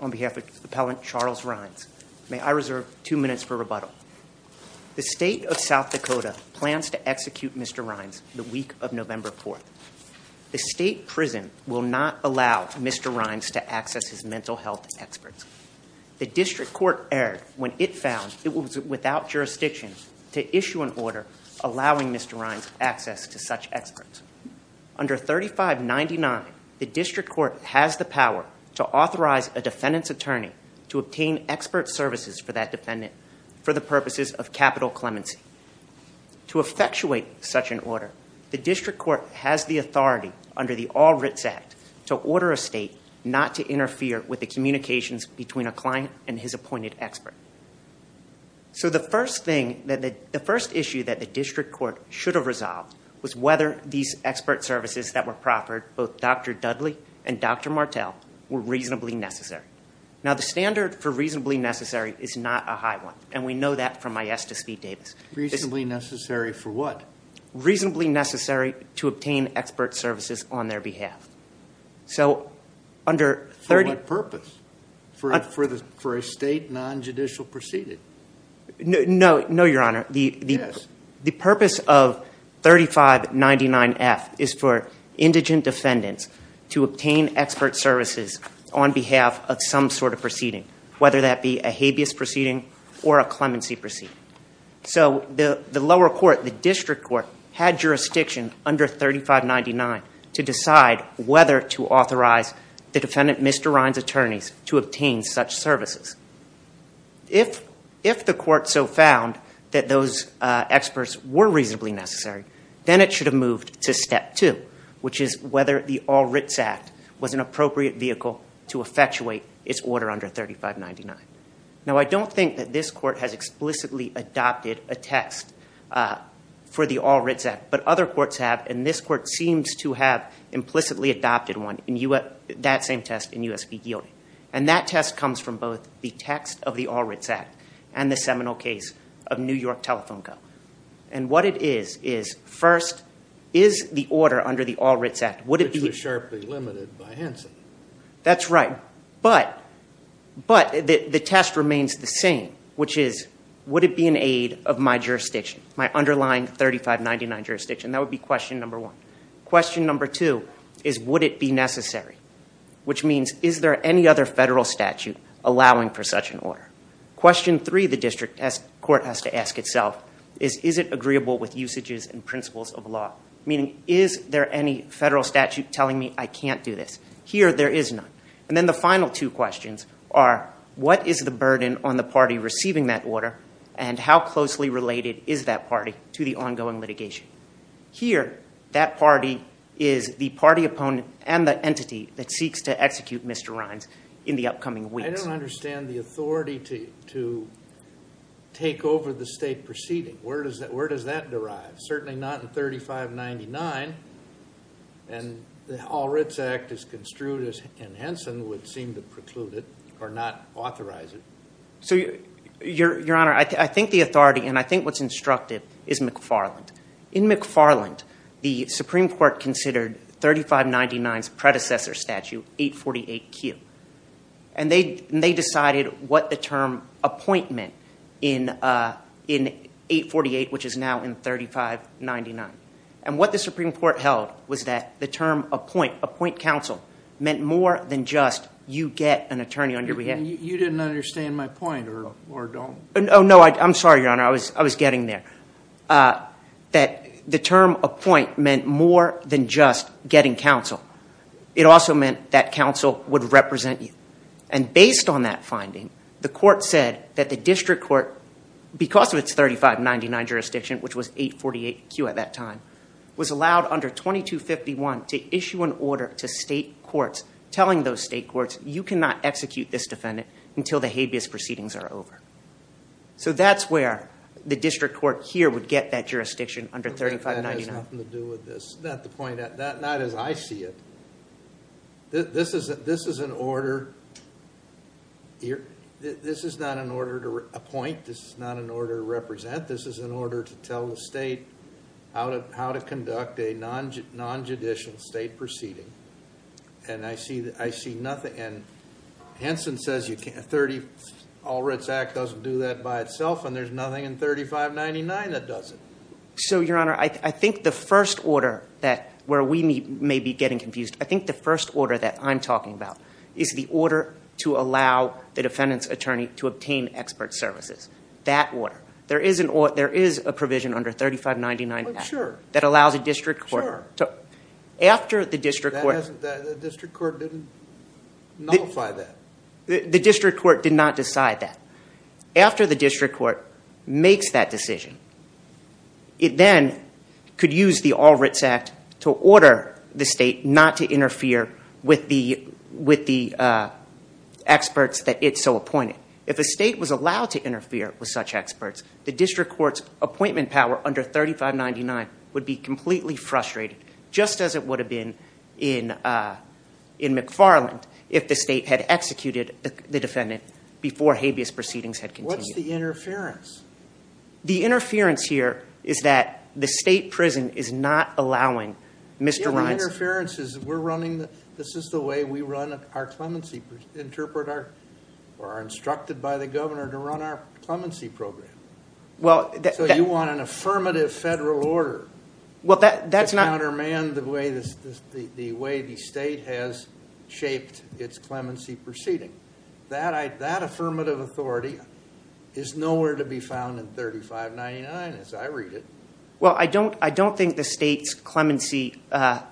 on behalf of Appellant Charles Rhines. May I reserve two minutes for rebuttal? The State of South Dakota plans to execute Mr. Rhines the week of November 4th. The State Prison will not allow Mr. Rhines to access his mental health experts. The District Court erred when it found it was without jurisdiction to issue an order allowing Mr. Rhines access to such experts. Under 3599, the District Court has the power to authorize a defendant's attorney to obtain expert services for that defendant for the purposes of capital clemency. To effectuate such an order, the District Court has the authority, under the All Writs Act, to order a State not to interfere with the communications between a client and his appointed expert. So the first issue that the District Court should have resolved was whether these expert services that were proffered, both Dr. Dudley and Dr. Martel, were reasonably necessary. Now the standard for reasonably necessary is not a high one, and we know that from my Estes v. Davis. Reasonably necessary for what? Reasonably necessary to obtain expert services on their behalf. For what purpose? For a State non-judicial proceeding? No, Your Honor. The purpose of 3599F is for indigent defendants to obtain expert services on behalf of some sort of proceeding, whether that be a habeas proceeding or a clemency proceeding. So the lower court, the District Court, had jurisdiction under 3599F to decide whether to authorize the defendant, Mr. Ryan's attorneys, to obtain such services. If the court so found that those experts were reasonably necessary, then it should have moved to step two, which is whether the All Writs Act was an appropriate vehicle to effectuate its order under 3599F. Now I don't think that this court has explicitly adopted a test for the All Writs Act, but other courts have, and this court seems to have implicitly adopted one, that same test in U.S. v. Gilday. And that test comes from both the text of the All Writs Act and the seminal case of New York Telephone Co. And what it is, is first, is the order under the All Writs Act, would it be... which is, would it be an aid of my jurisdiction, my underlying 3599 jurisdiction? That would be question number one. Question number two is, would it be necessary? Which means, is there any other federal statute allowing for such an order? Question three the District Court has to ask itself is, is it agreeable with usages and principles of law? Meaning, is there any federal statute telling me I can't do this? Here, there is none. And then the final two questions are, what is the burden on the party receiving that order and how closely related is that party to the ongoing litigation? Here, that party is the party opponent and the entity that seeks to execute Mr. Rines in the upcoming weeks. I don't understand the authority to take over the state proceeding. Where does that derive? Certainly not in 3599. And the All Writs Act is construed, and Henson would seem to preclude it or not authorize it. Your Honor, I think the authority, and I think what's instructive, is McFarland. In McFarland, the Supreme Court considered 3599's predecessor statute, 848Q. And they decided what the term appointment in 848, which is now in 3599. And what the Supreme Court held was that the term appoint, appoint counsel, meant more than just you get an attorney on your behalf. You didn't understand my point, or don't? Oh, no, I'm sorry, Your Honor. I was getting there. That the term appoint meant more than just getting counsel. It also meant that counsel would represent you. And based on that finding, the court said that the district court, because of its 3599 jurisdiction, which was 848Q at that time, was allowed under 2251 to issue an order to state courts telling those state courts, you cannot execute this defendant until the habeas proceedings are over. So that's where the district court here would get that jurisdiction under 3599. That has nothing to do with this. Not as I see it. This is an order. This is not an order to appoint. This is not an order to represent. This is an order to tell the state how to conduct a non-judicial state proceeding. And I see nothing. And Hanson says you can't. All Writs Act doesn't do that by itself, and there's nothing in 3599 that does it. So, Your Honor, I think the first order where we may be getting confused, I think the first order that I'm talking about is the order to allow the defendant's attorney to obtain expert services. That order. There is a provision under 3599. Sure. The district court didn't nullify that. After the district court makes that decision, it then could use the All Writs Act to order the state not to interfere with the experts that it so appointed. If a state was allowed to interfere with such experts, the district court's appointment power under 3599 would be completely frustrated, just as it would have been in McFarland if the state had executed the defendant before habeas proceedings had continued. What's the interference? The interference here is that the state prison is not allowing Mr. Reins... The interference is we're running, this is the way we run our clemency, interpret our, or are instructed by the governor to run our clemency program. So you want an affirmative federal order to countermand the way the state has shaped its clemency proceeding. That affirmative authority is nowhere to be found in 3599 as I read it. I don't think the state's clemency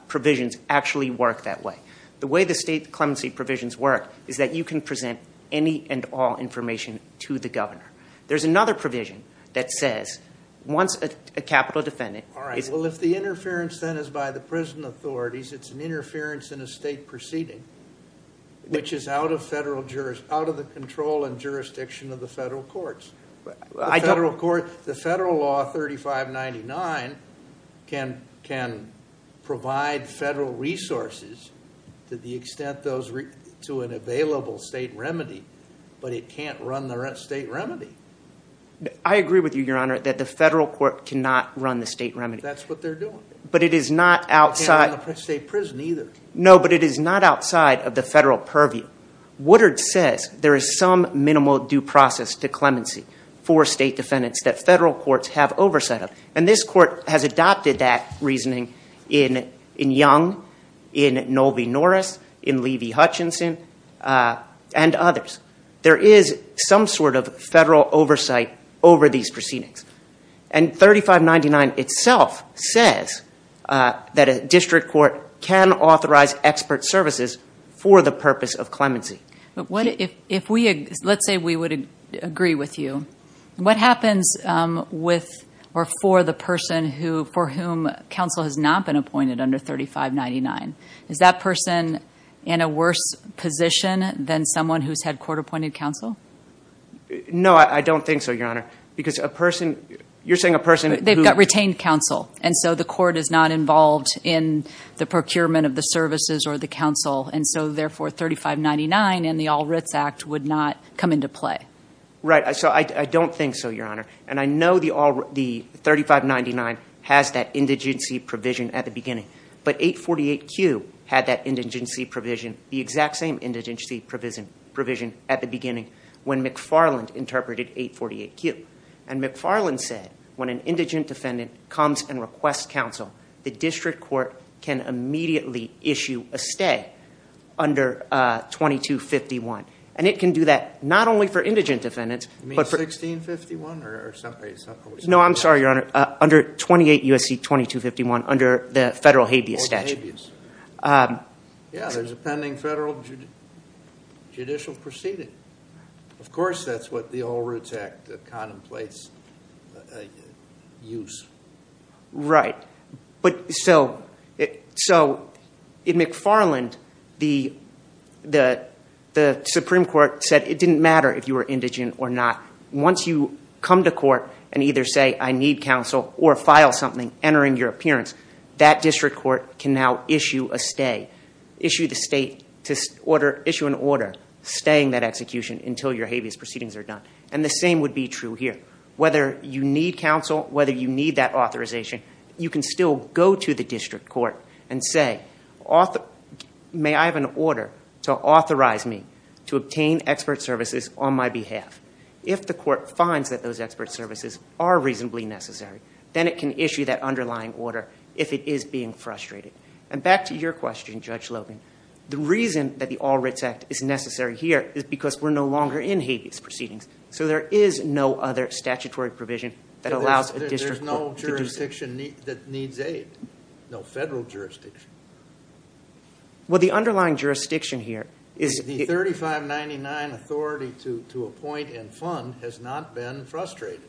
provisions actually work that way. The way the state clemency provisions work is that you can present any and all information to the governor. There's another provision that says once a capital defendant... Well, if the interference then is by the prison authorities, it's an interference in a state proceeding, which is out of the control and jurisdiction of the federal courts. The federal law 3599 can provide federal resources to an available state remedy, but it can't run the state remedy. I agree with you, Your Honor, that the federal court cannot run the state remedy. That's what they're doing. But it is not outside... It can't run the state prison either. No, but it is not outside of the federal purview. Woodard says there is some minimal due process to clemency for state defendants that federal courts have oversight of, and this court has adopted that reasoning in Young, in Nolvi Norris, in Levy Hutchinson, and others. There is some sort of federal oversight over these proceedings. And 3599 itself says that a district court can authorize expert services for the purpose of clemency. Let's say we would agree with you. What happens with or for the person for whom counsel has not been appointed under 3599? Is that person in a worse position than someone who's had court-appointed counsel? No, I don't think so, Your Honor, because a person... They've got retained counsel, and so the court is not involved in the procurement of the services or the counsel. And so, therefore, 3599 and the All Writs Act would not come into play. Right. So I don't think so, Your Honor. And I know the 3599 has that 848Q had that indigency provision, the exact same indigency provision at the beginning when McFarland interpreted 848Q. And McFarland said, when an indigent defendant comes and requests counsel, the district court can immediately issue a stay under 2251. And it can do that not only for indigent defendants... You mean 1651 or someplace else? No, I'm sorry, Your Honor. Under 28 U.S.C. 2251, under the federal habeas statute. Oh, the habeas. Yeah, there's a pending federal judicial proceeding. Of course, that's what the All Writs Act contemplates use. Right. So in McFarland, the Supreme Court said it didn't matter if you were indigent or not. Once you come to court and either say, I need counsel or file something entering your appearance, that district court can now issue a stay, issue an order staying that execution until your habeas proceedings are done. And the same would be true here. Whether you need counsel, whether you need that authorization, you can still go to the district court and say, may I have an order to authorize me to obtain expert services on my behalf? If the court finds that those expert services are reasonably necessary, then it can issue that underlying order if it is being frustrated. And back to your question, Judge Logan, the reason that the All Writs Act is necessary here is because we're no longer in habeas proceedings. So there is no other statutory provision that allows a district court to do so. There's no jurisdiction that needs aid. No federal jurisdiction. Well, the underlying jurisdiction here is... The 3599 authority to appoint and fund has not been frustrated.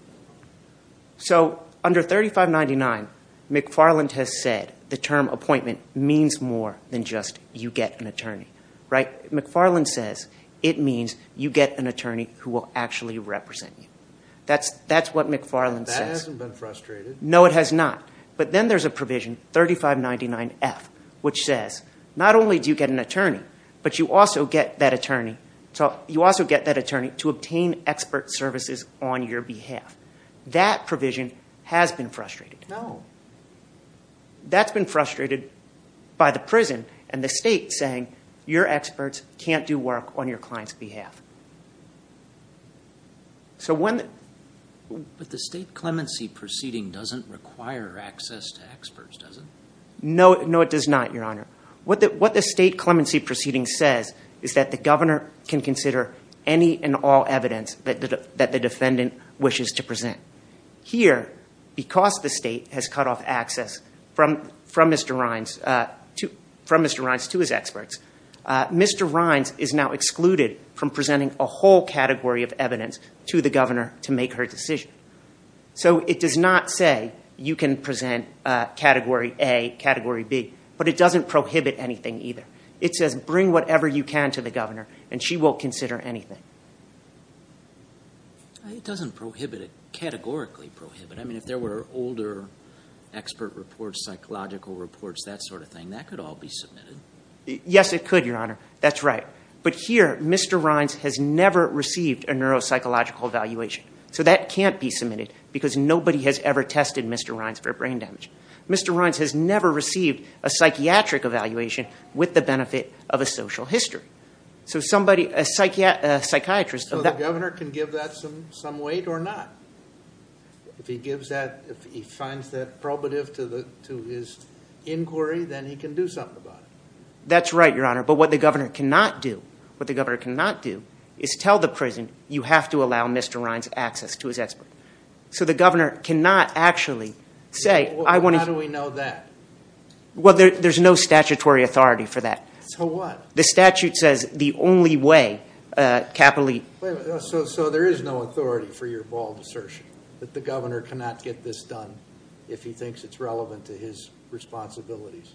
So under 3599, McFarland has said the term appointment means more than just you get an attorney. McFarland says it means you get an attorney who will actually represent you. That's what McFarland says. That hasn't been frustrated. No, it has not. But then there's a provision, 3599F, which says not only do you get an attorney, but you also get that attorney to obtain expert services on your behalf. That provision has been frustrated. No. That's been frustrated by the prison and the state saying your experts can't do work on your client's behalf. So when... But the state clemency proceeding doesn't require access to experts, does it? No, it does not, Your Honor. What the state clemency proceeding says is that the governor can consider any and all evidence that the defendant wishes to present. Here, because the state has cut off access from Mr. Rines to his experts, Mr. Rines is now excluded from presenting a whole category of evidence to the governor to make her decision. So it does not say you can present category A, category B, but it doesn't prohibit anything either. It says bring whatever you can to the governor and she won't consider anything. It doesn't prohibit it. Categorically prohibit it. I mean, if there were older expert reports, psychological reports, that sort of thing, that could all be submitted. Yes, it could, Your Honor. That's right. But here, Mr. Rines has never received a neuropsychological evaluation. So that can't be submitted because nobody has ever tested Mr. Rines for brain damage. Mr. Rines has never received a psychiatric evaluation with the benefit of a social history. So a psychiatrist... So the governor can give that some weight or not? If he finds that probative to his inquiry, then he can do something about it. That's right, Your Honor. But what the governor cannot do is tell the prison, you have to allow Mr. Rines access to his expert. How do we know that? Well, there's no statutory authority for that. So there is no authority for your bald assertion that the governor cannot get this done if he thinks it's relevant to his responsibilities?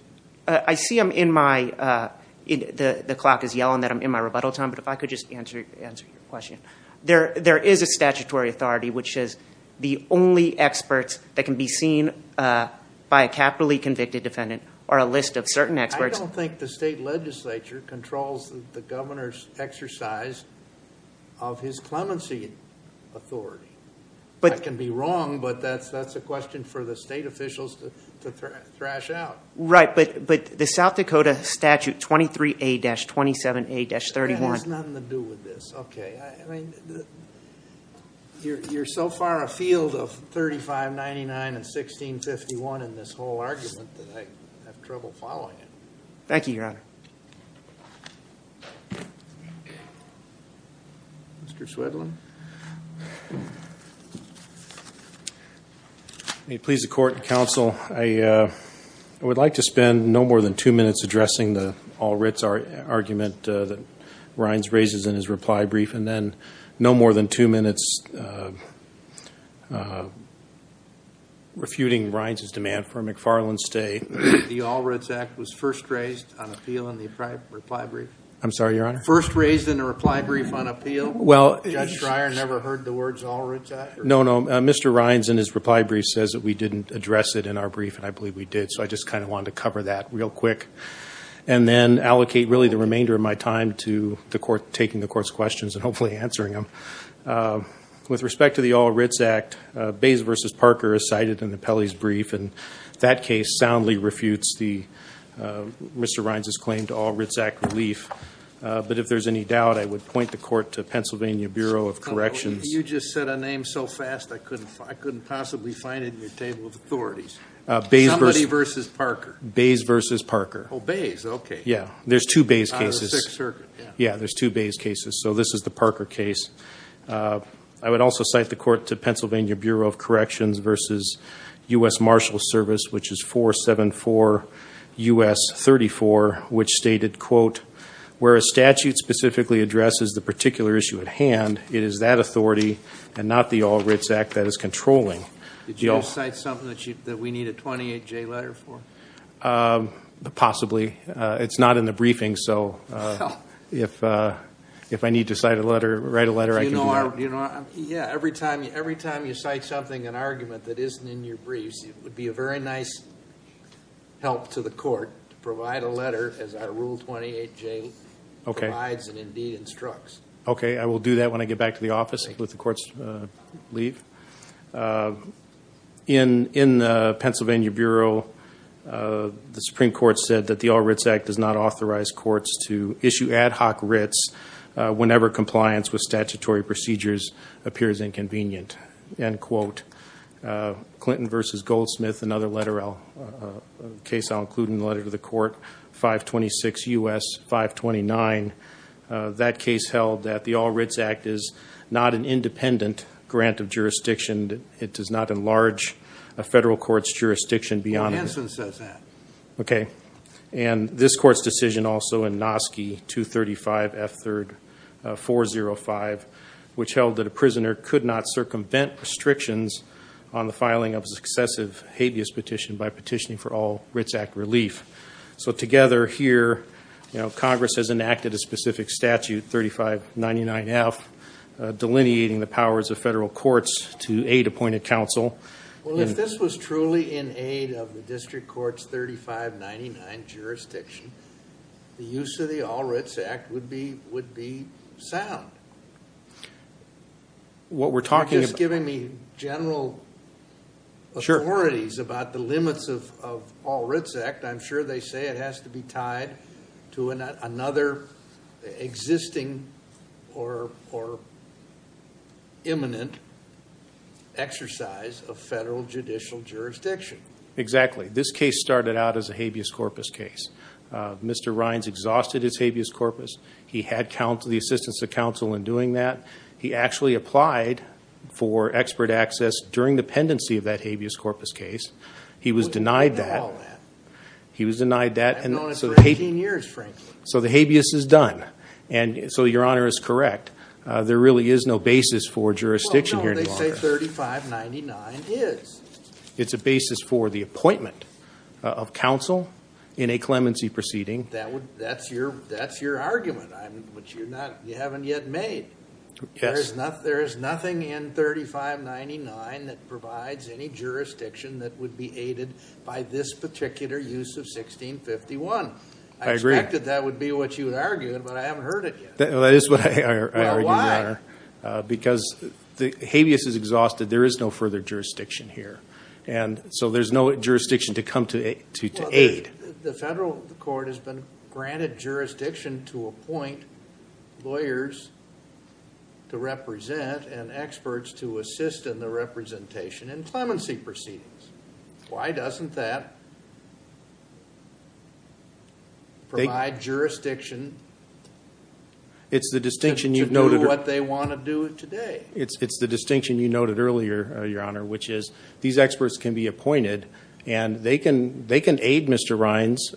I see I'm in my... The clock is yelling that I'm in my rebuttal time, but if I could just answer your question. There is a statutory authority which says the only experts that can be seen by a capitally convicted defendant are a list of certain experts. I don't think the state legislature controls the governor's exercise of his clemency authority. That can be wrong, but that's a question for the state officials to thrash out. Right, but the South Dakota statute 23A-27A-31... That has nothing to do with this. You're so far afield of 3599 and 1651 in this whole argument that I have trouble following it. Thank you, Your Honor. Mr. Swedlund. May it please the court and counsel, I would like to spend no more than two minutes addressing the all writs argument that Rines raises in his reply brief and then no more than two minutes refuting Rines's demand for a McFarland stay. The all writs act was first raised on appeal in the reply brief? I'm sorry, Your Honor? First raised in a reply brief on appeal? Judge Schreier never heard the words all writs act? No, no, Mr. Rines in his reply brief says that we didn't address it in our brief, and I believe we did, so I just kind of wanted to cover that real quick and then allocate really the remainder of my time to taking the court's questions and hopefully answering them. With respect to the all writs act, Bays v. Parker is cited in the appellee's brief, and that case soundly refutes Mr. Rines's claim to all writs act relief. But if there's any doubt, I would point the court to Pennsylvania Bureau of Corrections. You just said a name so fast I couldn't possibly find it in your table of authorities. Bays v. Parker. There's two Bays cases, so this is the Parker case. I would also cite the court to Pennsylvania Bureau of Corrections v. U.S. Marshals Service, which is 474 U.S. 34, which stated, quote, where a statute specifically addresses the particular issue at hand, it is that authority and not the all writs act that is controlling. Did you cite something that we need a 28-J letter for? Possibly. It's not in the briefing, so if I need to write a letter, I can do that. Yeah, every time you cite something, an argument that isn't in your briefs, it would be a very nice help to the court to provide a letter as our rule 28-J provides and indeed instructs. Okay, I will do that when I get back to the office. In Pennsylvania Bureau, the Supreme Court said that the all writs act does not authorize courts to issue ad hoc writs whenever compliance with statutory procedures appears inconvenient, end quote. Clinton v. Goldsmith, another case I'll include in the letter to the court, 526 U.S. 529, that case held that the all writs act is not an independent grant of jurisdiction. It does not enlarge a federal court's jurisdiction beyond that. Hanson says that. Okay, and this court's decision also in that a prisoner could not circumvent restrictions on the filing of a successive habeas petition by petitioning for all writs act relief. So together here, Congress has enacted a specific statute, 3599F, delineating the powers of federal courts to aid appointed counsel. Well, if this was truly in aid of the district court's 3599 jurisdiction, the use of the all writs act would be sound. You're just giving me general authorities about the limits of all writs act. I'm sure they say it has to be tied to another existing or imminent exercise of federal judicial jurisdiction. Exactly. This case started out as a habeas corpus case. Mr. Rines exhausted his habeas corpus. He had the assistance of counsel in doing that. He actually applied for expert access during the pendency of that habeas corpus case. He was denied that. So the habeas is done. And so your honor is correct. There really is no basis for the appointment of counsel in a clemency proceeding. That's your argument, which you haven't yet made. There is nothing in 3599 that provides any jurisdiction that would be aided by this particular use of 1651. I expected that would be what you would argue, but I haven't heard it yet. That is what I argue, your honor, because the habeas is exhausted. There is no further jurisdiction here. And so there's no jurisdiction to come to aid. The federal court has been granted jurisdiction to appoint lawyers to represent and experts to assist in the representation in clemency proceedings. Why doesn't that provide jurisdiction to do what they want to do today? It's the distinction you noted earlier, your honor, which is these experts can be appointed and they can aid Mr. Rines.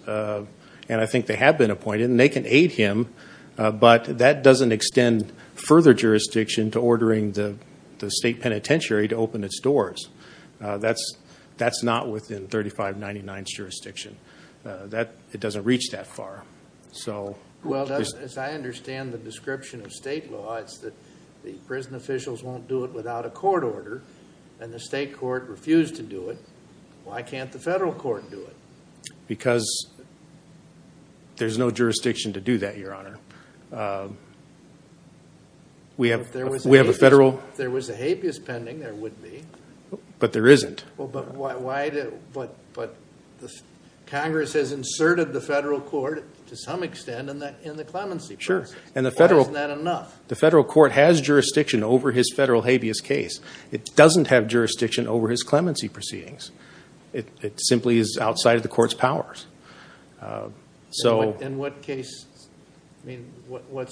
And I think they have been appointed and they can aid him. But that doesn't extend further jurisdiction to ordering the state penitentiary to open its doors. That's not within 3599's jurisdiction. It doesn't reach that far. As I understand the description of state law, it's that the prison officials won't do it without a court order and the state court refused to do it. Why can't the federal court do it? Because there's no jurisdiction to do that, your honor. If there was a habeas pending, there would be. But there isn't. Congress has inserted the federal court to some extent in the clemency proceedings. Why isn't that enough? It doesn't have jurisdiction over his clemency proceedings. In what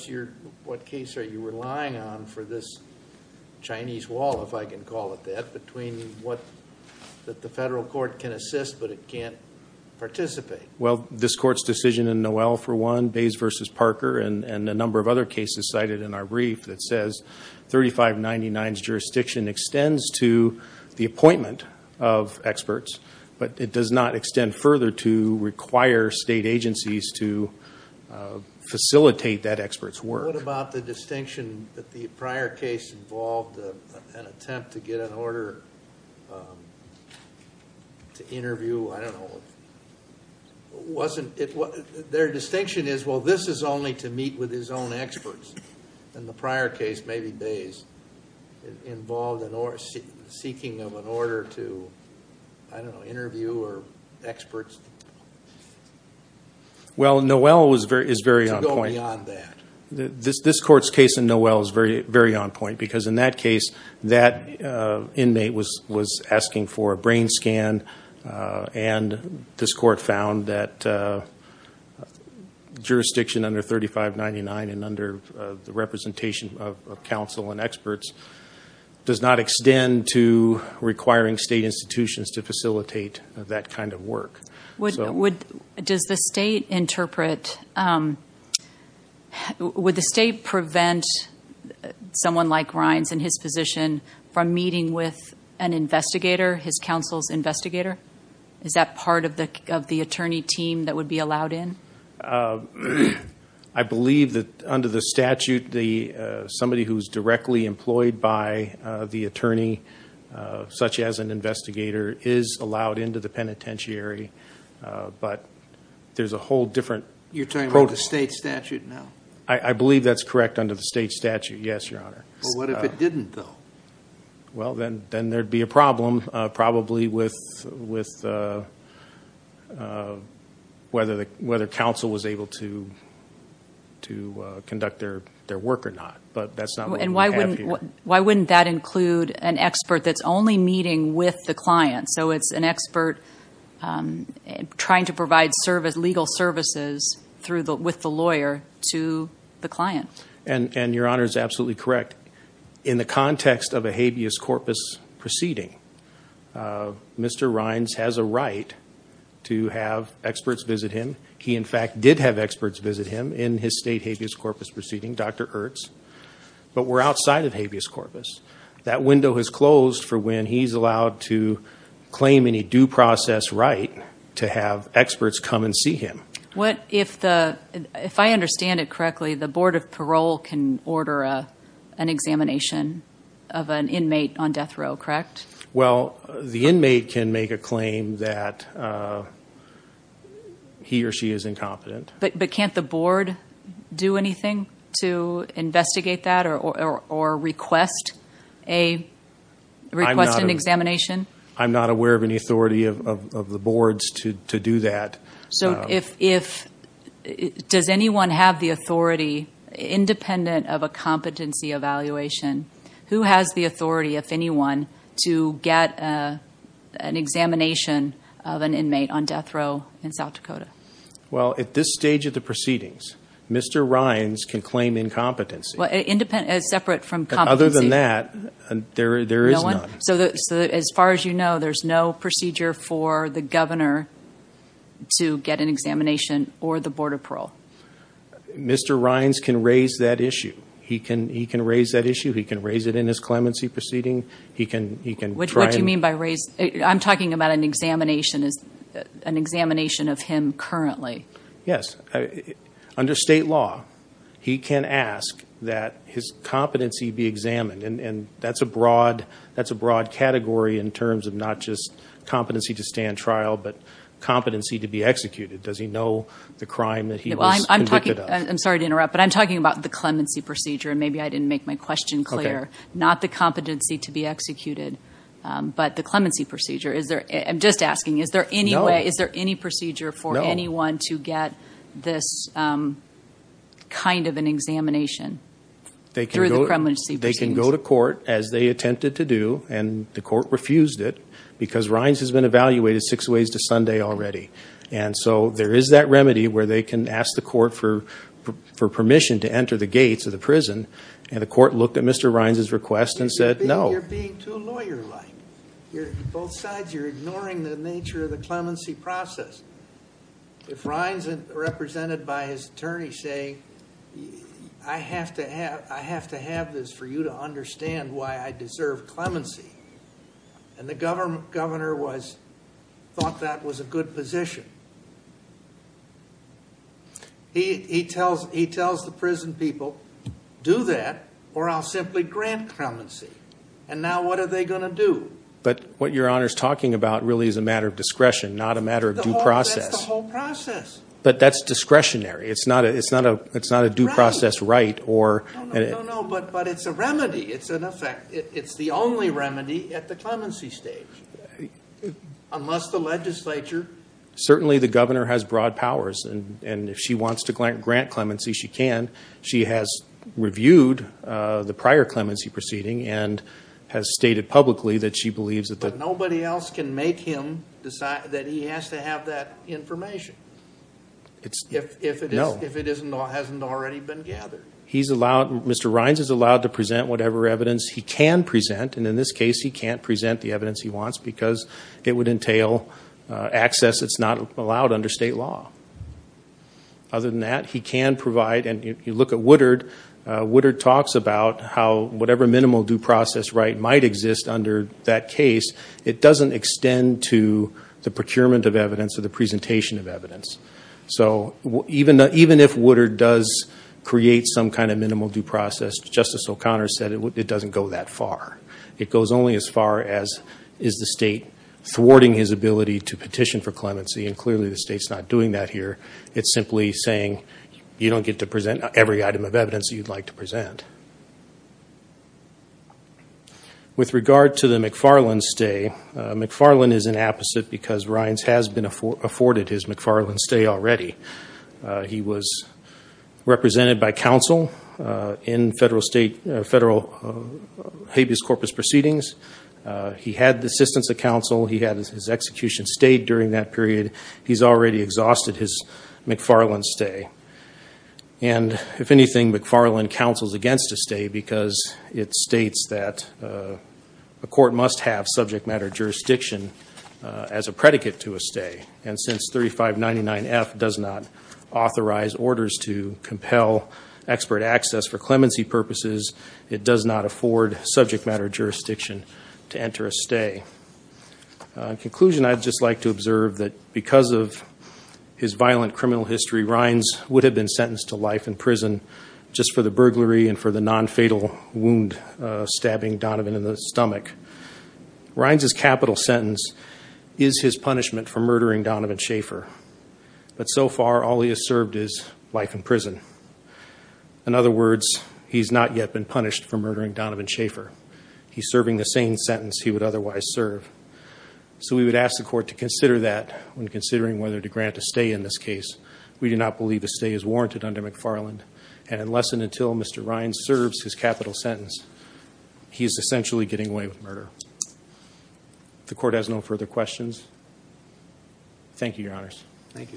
case are you relying on for this Chinese wall, if I can call it that, that the federal court can assist but it can't participate? This court's decision in Noel for one, Bays v. Parker, and a number of other cases cited in our brief that says 3599's jurisdiction extends to the appointment of state agencies to facilitate that expert's work. What about the distinction that the prior case involved an attempt to get an order to interview? Their distinction is this is only to meet with his own experts. The prior case, maybe Bays, involved the seeking of an order to interview or to go beyond that. This court's case in Noel is very on point because in that case, that inmate was asking for a brain scan, and this court found that jurisdiction under 3599 and under the representation of counsel and experts does not extend to requiring state institutions to facilitate that kind of work. Would the state prevent someone like Rines and his position from meeting with an investigator, his counsel's investigator? Is that part of the attorney team that would be allowed in? I believe that under the statute, somebody who's directly employed by the attorney, such as an investigator, is allowed into the penitentiary. But there's a whole different protocol. You're talking about the state statute now? I believe that's correct under the state statute, yes, Your Honor. But what if it didn't, though? Well, then there'd be a problem, probably, with whether counsel was able to conduct their work or not. But that's not what we have here. And why wouldn't that include an expert that's only meeting with the client? So it's an expert trying to provide legal services with the lawyer to the client. And Your Honor is absolutely correct. In the context of a habeas corpus proceeding, Mr. Rines has a right to have experts visit him. He, in fact, did have experts visit him in his state habeas corpus proceeding, Dr. Ertz. But we're outside of habeas corpus. That window has closed for when he's allowed to claim any due process right to have experts come and see him. If I understand it correctly, the Board of Parole can order an examination of an inmate on death row, correct? Well, the inmate can make a claim that he or she is incompetent. But can't the board do anything to investigate that or request an examination? I'm not aware of any authority of the boards to do that. Does anyone have the authority, independent of a competency evaluation, who has the authority, if anyone, to get an examination of an inmate on death row in South Dakota? Well, at this stage of the proceedings, Mr. Rines can claim incompetency. But other than that, there is none. So as far as you know, there's no procedure for the governor to get an examination or the Board of Parole? Mr. Rines can raise that issue. He can raise that issue. He can raise it in his clemency proceeding. What do you mean by raise? I'm talking about an examination of him currently. Yes. Under state law, he can ask that his competency be examined. And that's a broad category in terms of not just competency to stand trial, but competency to be executed. Does he know the crime that he was convicted of? I'm sorry to interrupt, but I'm talking about the clemency procedure, and maybe I didn't make my question clear. Not the competency to be executed, but the clemency procedure. I'm just asking, is there any procedure for anyone to get this kind of an examination? They can go to court, as they attempted to do, and the court refused it, because Rines has been evaluated six ways to Sunday already. And so there is that remedy where they can ask the court for permission to enter the gates of the prison, and the court looked at Mr. Rines' request and said, no. You're being too lawyer-like. On both sides, you're ignoring the nature of the clemency process. If Rines, represented by his attorney, say, I have to have this for you to understand why I deserve clemency, the court governor thought that was a good position. He tells the prison people, do that, or I'll simply grant clemency. And now what are they going to do? But what Your Honor is talking about really is a matter of discretion, not a matter of due process. That's the whole process. But that's discretionary. It's not a due process right. No, no, but it's a remedy. It's an effect. It's the only remedy at the clemency stage. Unless the legislature... Certainly the governor has broad powers, and if she wants to grant clemency, she can. She has reviewed the prior clemency proceeding and has stated publicly that she believes that the... If it hasn't already been gathered. Mr. Rines is allowed to present whatever evidence he can present, and in this case he can't present the evidence he wants, because it would entail access that's not allowed under state law. Other than that, he can provide, and you look at Woodard. Woodard talks about how whatever minimal due process right might exist under that case, it doesn't extend to the procurement of evidence or the presentation of evidence. So even if Woodard does create some kind of minimal due process, Justice O'Connor said it doesn't go that far. It goes only as far as is the state thwarting his ability to petition for clemency, and clearly the state's not doing that here. It's simply saying you don't get to present every item of evidence you'd like to present. With regard to the McFarland stay, McFarland is inapposite because Rines has been afforded his McFarland stay already. He was represented by counsel in federal habeas corpus proceedings. He had the assistance of counsel. He had his execution stayed during that period. He's already exhausted his McFarland stay. And if anything, McFarland counsels against a stay because it states that a court must have subject matter jurisdiction as a predicate to a stay. And since 3599F does not authorize orders to compel expert access for clemency purposes, it does not afford subject matter jurisdiction to enter a stay. In conclusion, I'd just like to observe that because of his violent criminal history, Rines would have been sentenced to life in prison just for the burglary and for the nonfatal wound stabbing Donovan in the stomach. Rines' capital sentence is his punishment for murdering Donovan Schaefer. But so far, all he has served is life in prison. In other words, he's not yet been punished for murdering Donovan Schaefer. He's serving the same sentence he would otherwise serve. So we would ask the court to consider that when considering whether to grant a stay in this case. We do not believe a stay is warranted under McFarland. And unless and until Mr. Rines serves his capital sentence, he is essentially getting away with murder. If the court has no further questions, thank you, Your Honors. Thank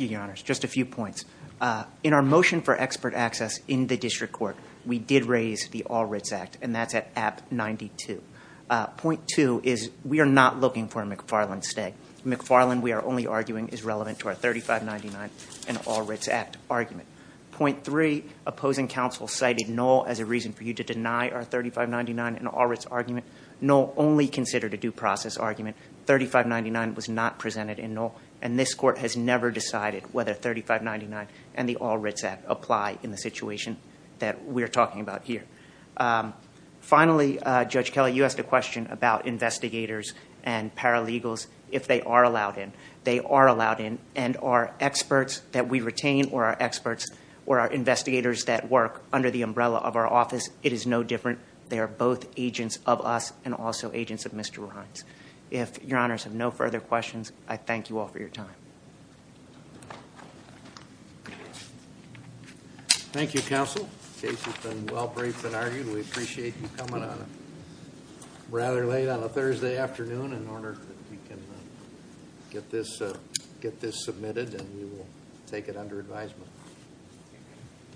you, Your Honors. Just a few points. In our motion for expert access in the district court, we did raise the All Writs Act, and that's at AB 92. Point two is we are not looking for a McFarland stay. McFarland, we are only arguing, is relevant to our 3599 and All Writs Act argument. Point three, opposing counsel cited Knoll as a reason for you to deny our 3599 and All Writs argument. Knoll only considered a due process argument. 3599 was not presented in Knoll, and this court has never decided whether 3599 and the All Writs Act apply in the situation that we're talking about here. Finally, Judge Kelly, you asked a question about investigators and paralegals. If they are allowed in, they are allowed in, and our experts that we retain, or our experts, or our investigators that work under the umbrella of our office, it is no different. They are both agents of us and also agents of Mr. Rines. If Your Honors have no further questions, I thank you all for your time. Thank you, counsel. Case has been well briefed and argued. We appreciate you coming on rather late on a Thursday afternoon in order that we can get this submitted, and we will take it under advisement.